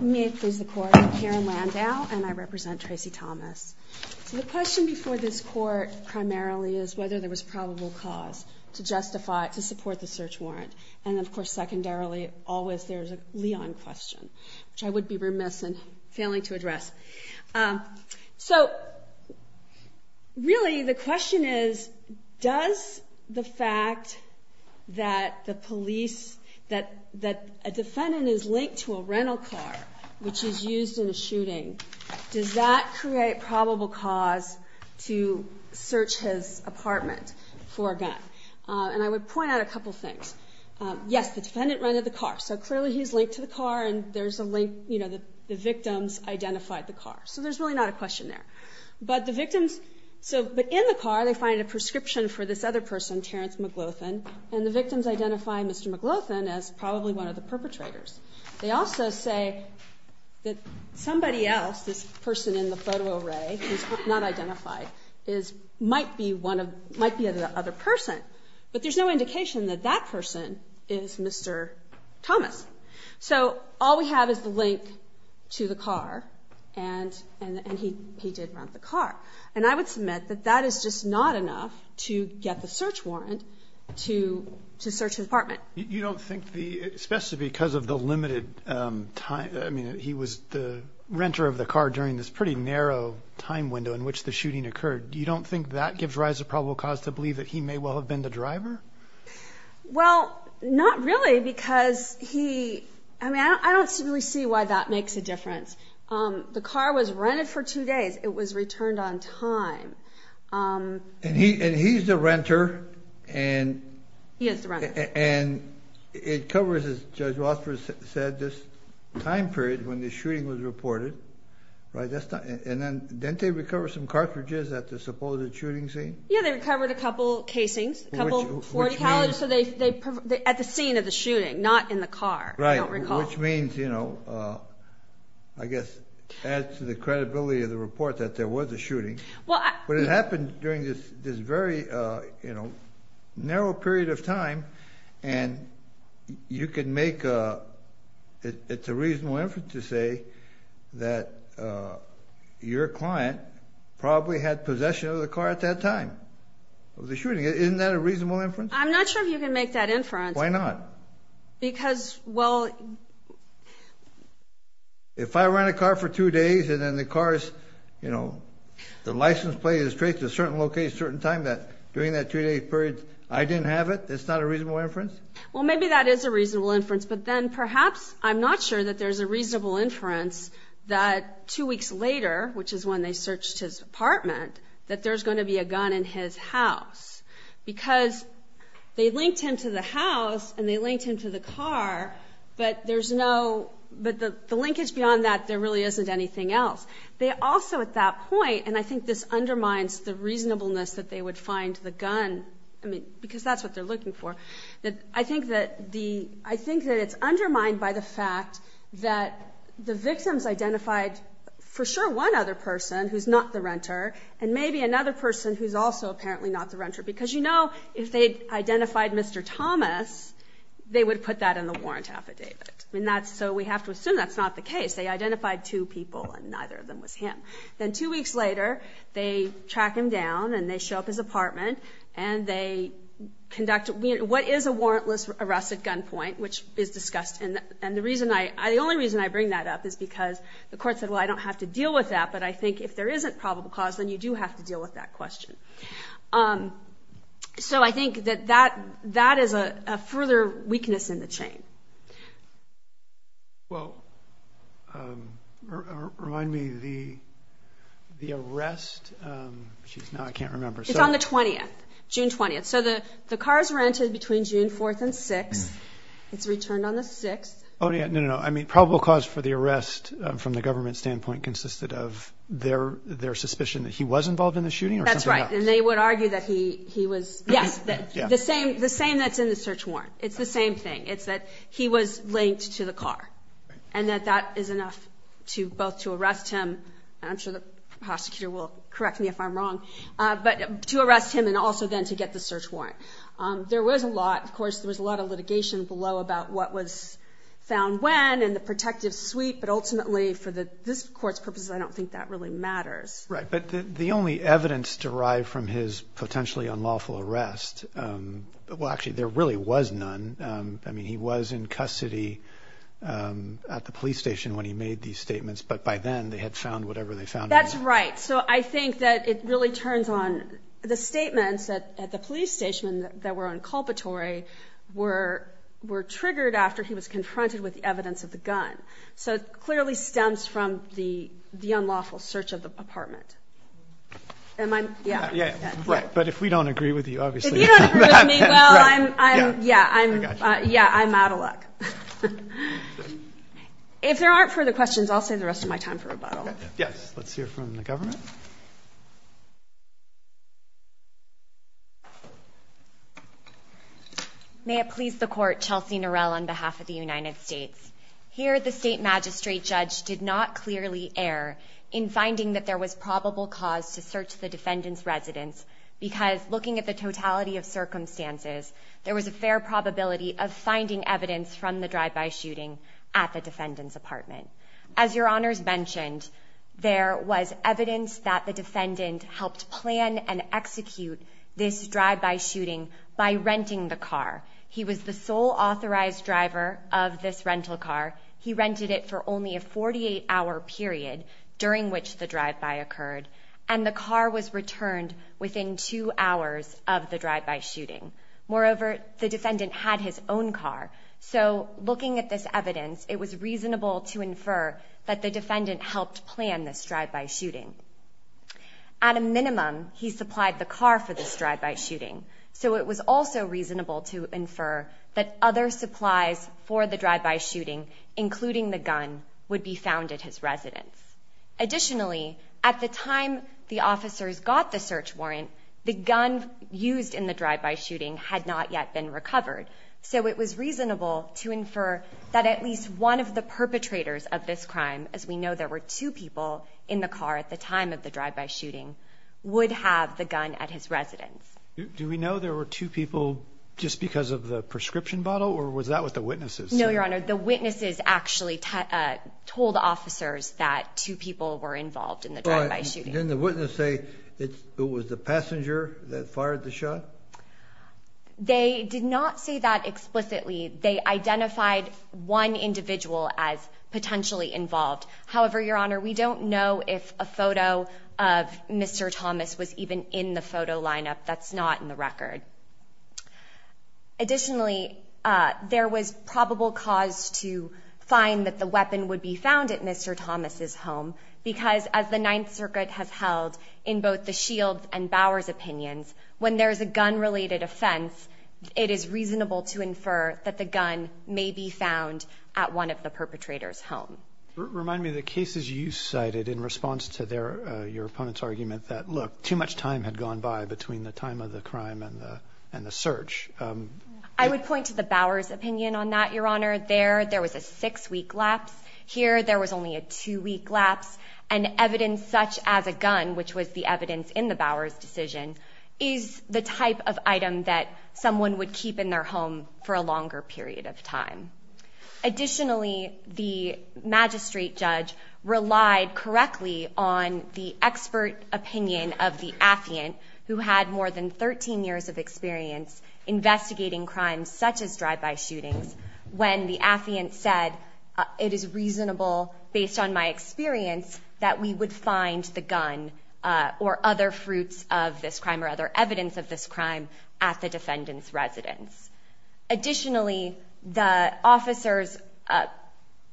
The question before this court primarily is whether there was probable cause to justify, to support the search warrant. And of course, secondarily, always there's a Leon question, which I would be remiss in failing to address. So, really the question is, does the fact that the police, that a defendant is linked to a rental car, which is used in a shooting, does that create probable cause to search his apartment for a gun? And I would point out a couple things. Yes, the defendant rented the car, so clearly he's linked to the car and there's a link, you know, the victims identified the car. So there's really not a question there. But the victims, so, but in the car they find a prescription for this other person, Terence McLaughlin, and the victims identify Mr. McLaughlin as probably one of the perpetrators. They also say that somebody else, this person in the photo array who's not identified, is, might be one of, might be another person. But there's no indication that that person is Mr. Thomas. So, all we have is the link to the car, and he did rent the car. And I would submit that that is just not enough to get the search warrant to search his apartment. You don't think the, especially because of the limited time, I mean, he was the renter of the car during this pretty narrow time window in which the shooting occurred. You don't think that gives rise to probable cause to believe that he may well have been the driver? Well, not really, because he, I mean, I don't really see why that makes a difference. The car was rented for two days. It was returned on time. And he's the renter. He is the renter. And it covers, as Judge Rothfuss said, this time period when the shooting was reported, right? That's not, and then didn't they recover some cartridges at the supposed shooting scene? Yeah, they recovered a couple casings, a couple... Which means...... at the scene of the shooting, not in the car, I don't recall. Right, which means, you know, I guess adds to the credibility of the report that there was a shooting. Well, I... But it happened during this very, you know, narrow period of time, and you can make a, it's a reasonable inference to say that your client probably had possession of the car at that time of the shooting. Isn't that a reasonable inference? I'm not sure if you can make that inference. Why not? Because, well... If I rent a car for two days and then the car is, you know, the license plate is traced to a certain location at a certain time that during that two-day period I didn't have it, that's not a reasonable inference? Well, maybe that is a reasonable inference, but then perhaps I'm not sure that there's a reasonable inference that two weeks later, which is when they searched his apartment, that there's going to be a gun in his house. Because they linked him to the house and they linked him to the car, but there's no, but the linkage beyond that, there really isn't anything else. They also at that point, and I think this undermines the reasonableness that they would find the gun, I mean, because that's what they're looking for. I think that the, I think that it's undermined by the fact that the victims identified for sure one other person who's not the renter and maybe another person who's also apparently not the renter. Because, you know, if they identified Mr. Thomas, they would put that in the warrant affidavit. And that's, so we have to assume that's not the case. They identified two people and neither of them was him. Then two weeks later, they track him down and they show up at his apartment and they conduct, what is a warrantless arrest at gunpoint, which is discussed. And the reason I, the only reason I bring that up is because the court said, well, I don't have to deal with that. But I think if there isn't probable cause, then you do have to deal with that question. So I think that that, that is a further weakness in the chain. Well, remind me, the, the arrest, now I can't remember. It's on the 20th, June 20th. So the car is rented between June 4th and 6th. It's returned on the 6th. Oh, yeah, no, no, no. I mean, probable cause for the arrest from the government standpoint consisted of their, their suspicion that he was involved in the shooting or something else? That's right. And they would argue that he, he was, yes, the same, the same that's in the search warrant. It's the same thing. It's that he was linked to the car and that that is enough to both to arrest him. I'm sure the prosecutor will correct me if I'm wrong, but to arrest him and also then to get the search warrant. There was a lot. Of course, there was a lot of litigation below about what was found when and the protective suite. But ultimately, for this court's purposes, I don't think that really matters. Right. But the only evidence derived from his potentially unlawful arrest, well, actually, there really was none. I mean, he was in custody at the police station when he made these statements. But by then, they had found whatever they found. That's right. So I think that it really turns on the statements at the police station that were on culpatory were, were triggered after he was confronted with evidence of the gun. So it clearly stems from the, the unlawful search of the apartment. Am I? Yeah. Yeah. Right. But if we don't agree with you, obviously. If you don't agree with me, well, I'm, I'm, yeah, I'm, yeah, I'm out of luck. If there aren't further questions, I'll save the rest of my time for rebuttal. Yes. Let's hear from the government. May it please the court, Chelsea Norell on behalf of the United States. Here, the state magistrate judge did not clearly err in finding that there was probable cause to search the defendant's residence. Because looking at the totality of circumstances, there was a fair probability of finding evidence from the drive-by shooting at the defendant's apartment. As your honors mentioned, there was evidence that the defendant helped plan and execute this drive-by shooting by renting the car. He was the sole authorized driver of this rental car. He rented it for only a 48-hour period during which the drive-by occurred. And the car was returned within two hours of the drive-by shooting. Moreover, the defendant had his own car. So looking at this evidence, it was reasonable to infer that the defendant helped plan this drive-by shooting. At a minimum, he supplied the car for this drive-by shooting. So it was also reasonable to infer that other supplies for the drive-by shooting, including the gun, would be found at his residence. Additionally, at the time the officers got the search warrant, the gun used in the drive-by shooting had not yet been recovered. So it was reasonable to infer that at least one of the perpetrators of this crime, as we know there were two people in the car at the time of the drive-by shooting, would have the gun at his residence. Do we know there were two people just because of the prescription bottle, or was that with the witnesses? No, Your Honor. The witnesses actually told officers that two people were involved in the drive-by shooting. But didn't the witness say it was the passenger that fired the shot? They did not say that explicitly. They identified one individual as potentially involved. However, Your Honor, we don't know if a photo of Mr. Thomas was even in the photo lineup. That's not in the record. Additionally, there was probable cause to find that the weapon would be found at Mr. Thomas's home, because as the Ninth Circuit has held in both the Shields' and Bauer's opinions, when there is a gun-related offense, it is reasonable to infer that the gun may be found at one of the perpetrators' home. Remind me of the cases you cited in response to your opponent's argument that, look, too much time had gone by between the time of the crime and the search. I would point to the Bauer's opinion on that, Your Honor. There, there was a six-week lapse. Here, there was only a two-week lapse. And evidence such as a gun, which was the evidence in the Bauer's decision, is the type of item that someone would keep in their home for a longer period of time. Additionally, the magistrate judge relied correctly on the expert opinion of the affiant, who had more than 13 years of experience investigating crimes such as drive-by shootings, when the affiant said, it is reasonable, based on my experience, that we would find the gun or other fruits of this crime or other evidence of this crime at the defendant's residence. Additionally, the officers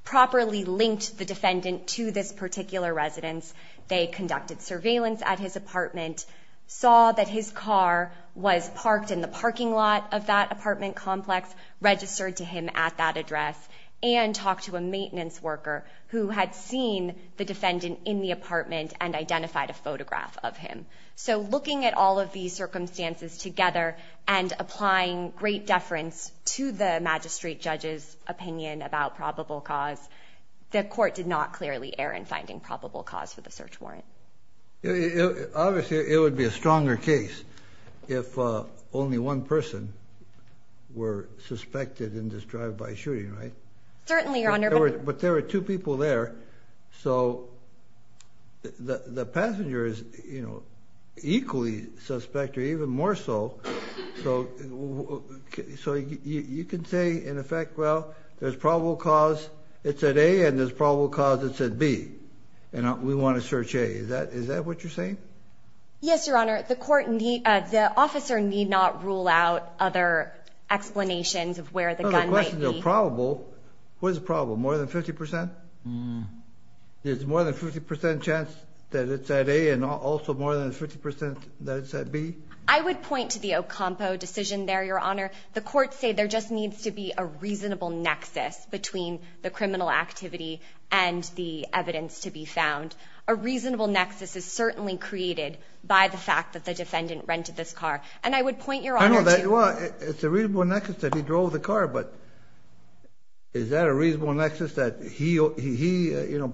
properly linked the defendant to this particular residence. They conducted surveillance at his apartment, saw that his car was parked in the parking lot of that apartment complex, registered to him at that address, and talked to a maintenance worker who had seen the defendant in the apartment and identified a photograph of him. So looking at all of these circumstances together and applying great deference to the magistrate judge's opinion about probable cause, the court did not clearly err in finding probable cause for the search warrant. Obviously, it would be a stronger case if only one person were suspected in this drive-by shooting, right? Certainly, Your Honor. But there were two people there, so the passenger is, you know, equally suspect, or even more so. So you can say, in effect, well, there's probable cause, it's at A, and there's probable cause, it's at B, and we want to search A. Is that what you're saying? Yes, Your Honor. The officer need not rule out other explanations of where the gun might be. What is probable? More than 50%? There's more than 50% chance that it's at A and also more than 50% that it's at B? I would point to the Ocampo decision there, Your Honor. The courts say there just needs to be a reasonable nexus between the criminal activity and the evidence to be found. A reasonable nexus is certainly created by the fact that the defendant rented this car. And I would point, Your Honor, to... Well, it's a reasonable nexus that he drove the car, but is that a reasonable nexus that he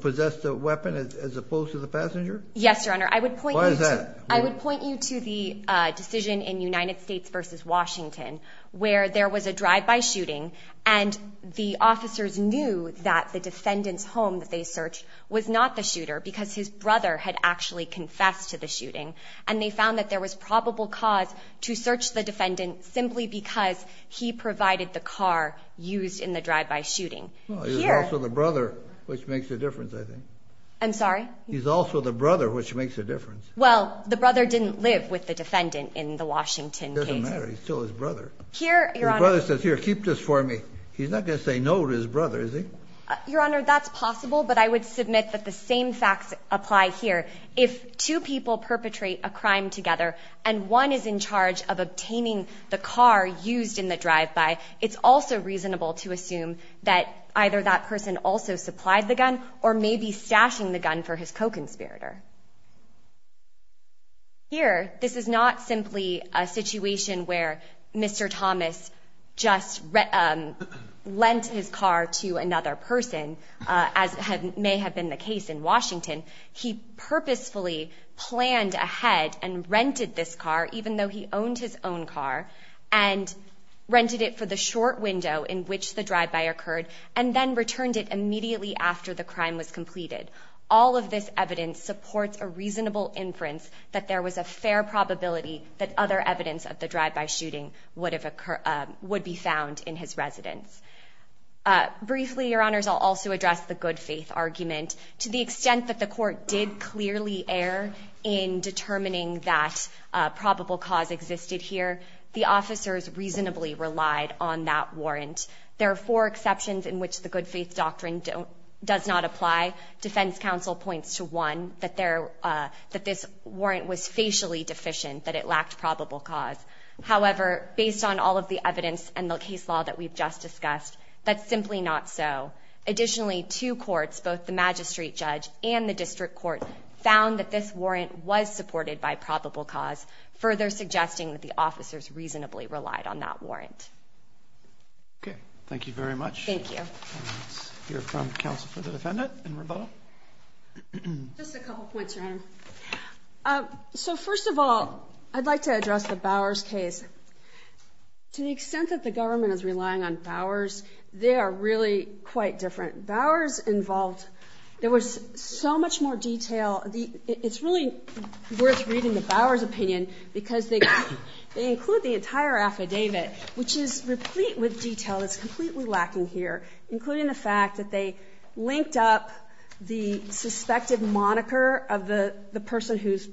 possessed a weapon as opposed to the passenger? Yes, Your Honor. Why is that? I would point you to the decision in United States v. Washington where there was a drive-by shooting, and the officers knew that the defendant's home that they searched was not the shooter because his brother had actually confessed to the shooting. And they found that there was probable cause to search the defendant simply because he provided the car used in the drive-by shooting. Well, he was also the brother, which makes a difference, I think. I'm sorry? He's also the brother, which makes a difference. Well, the brother didn't live with the defendant in the Washington case. It doesn't matter. He's still his brother. Here, Your Honor... His brother says, here, keep this for me. He's not going to say no to his brother, is he? Your Honor, that's possible, but I would submit that the same facts apply here. If two people perpetrate a crime together and one is in charge of obtaining the car used in the drive-by, it's also reasonable to assume that either that person also supplied the gun or may be stashing the gun for his co-conspirator. Here, this is not simply a situation where Mr. Thomas just lent his car to another person, as may have been the case in Washington. He purposefully planned ahead and rented this car, even though he owned his own car, and rented it for the short window in which the drive-by occurred, and then returned it immediately after the crime was completed. All of this evidence supports a reasonable inference that there was a fair probability that other evidence of the drive-by shooting would be found in his residence. Briefly, Your Honors, I'll also address the good faith argument. To the extent that the court did clearly err in determining that probable cause existed here, the officers reasonably relied on that warrant. There are four exceptions in which the good faith doctrine does not apply. Defense counsel points to one, that this warrant was facially deficient, that it lacked probable cause. However, based on all of the evidence and the case law that we've just discussed, that's simply not so. Additionally, two courts, both the magistrate judge and the district court, found that this warrant was supported by probable cause, further suggesting that the officers reasonably relied on that warrant. Okay. Thank you very much. Thank you. Let's hear from counsel for the defendant in rebuttal. Just a couple points, Your Honor. So first of all, I'd like to address the Bowers case. To the extent that the government is relying on Bowers, they are really quite different. Bowers involved, there was so much more detail. It's really worth reading the Bowers opinion because they include the entire affidavit, which is replete with detail that's completely lacking here, including the fact that they linked up the suspected moniker of the person whose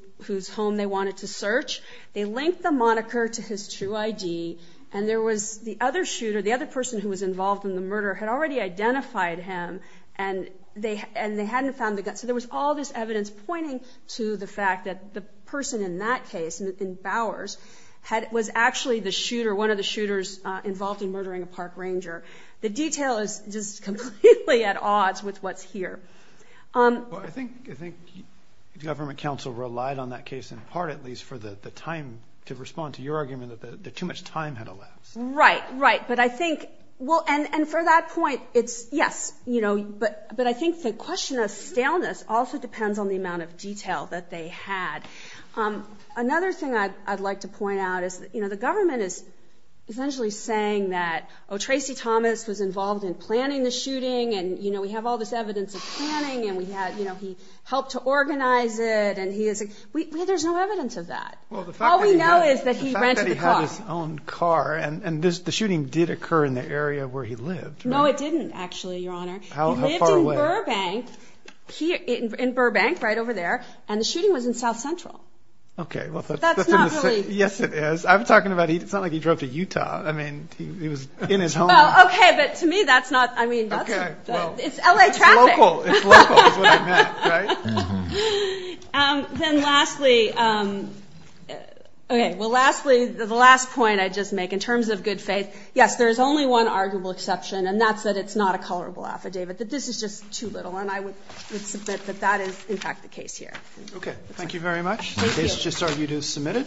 home they wanted to search. They linked the moniker to his true ID, and there was the other shooter, the other person who was involved in the murder, had already identified him, and they hadn't found the gun. So there was all this evidence pointing to the fact that the person in that case, in Bowers, was actually the shooter, one of the shooters involved in murdering a park ranger. The detail is just completely at odds with what's here. I think government counsel relied on that case in part, at least, for the time to respond to your argument that too much time had elapsed. Right, right. And for that point, yes. But I think the question of staleness also depends on the amount of detail that they had. Another thing I'd like to point out is the government is essentially saying that, oh, Tracy Thomas was involved in planning the shooting, and we have all this evidence of planning, and he helped to organize it. There's no evidence of that. All we know is that he rented the car. Well, the fact that he had his own car, and the shooting did occur in the area where he lived. No, it didn't, actually, Your Honor. How far away? He lived in Burbank, right over there, and the shooting was in South Central. Okay. That's not really— Yes, it is. I'm talking about, it's not like he drove to Utah. I mean, he was in his home town. Okay, but to me, that's not—I mean, that's— Okay, well— It's L.A. traffic. It's local. It's local is what I meant, right? Then lastly, okay, well, lastly, the last point I'd just make, in terms of good faith, yes, there is only one arguable exception, and that's that it's not a colorable affidavit, that this is just too little, and I would submit that that is, in fact, the case here. Okay, thank you very much. Thank you. The case just argued is submitted.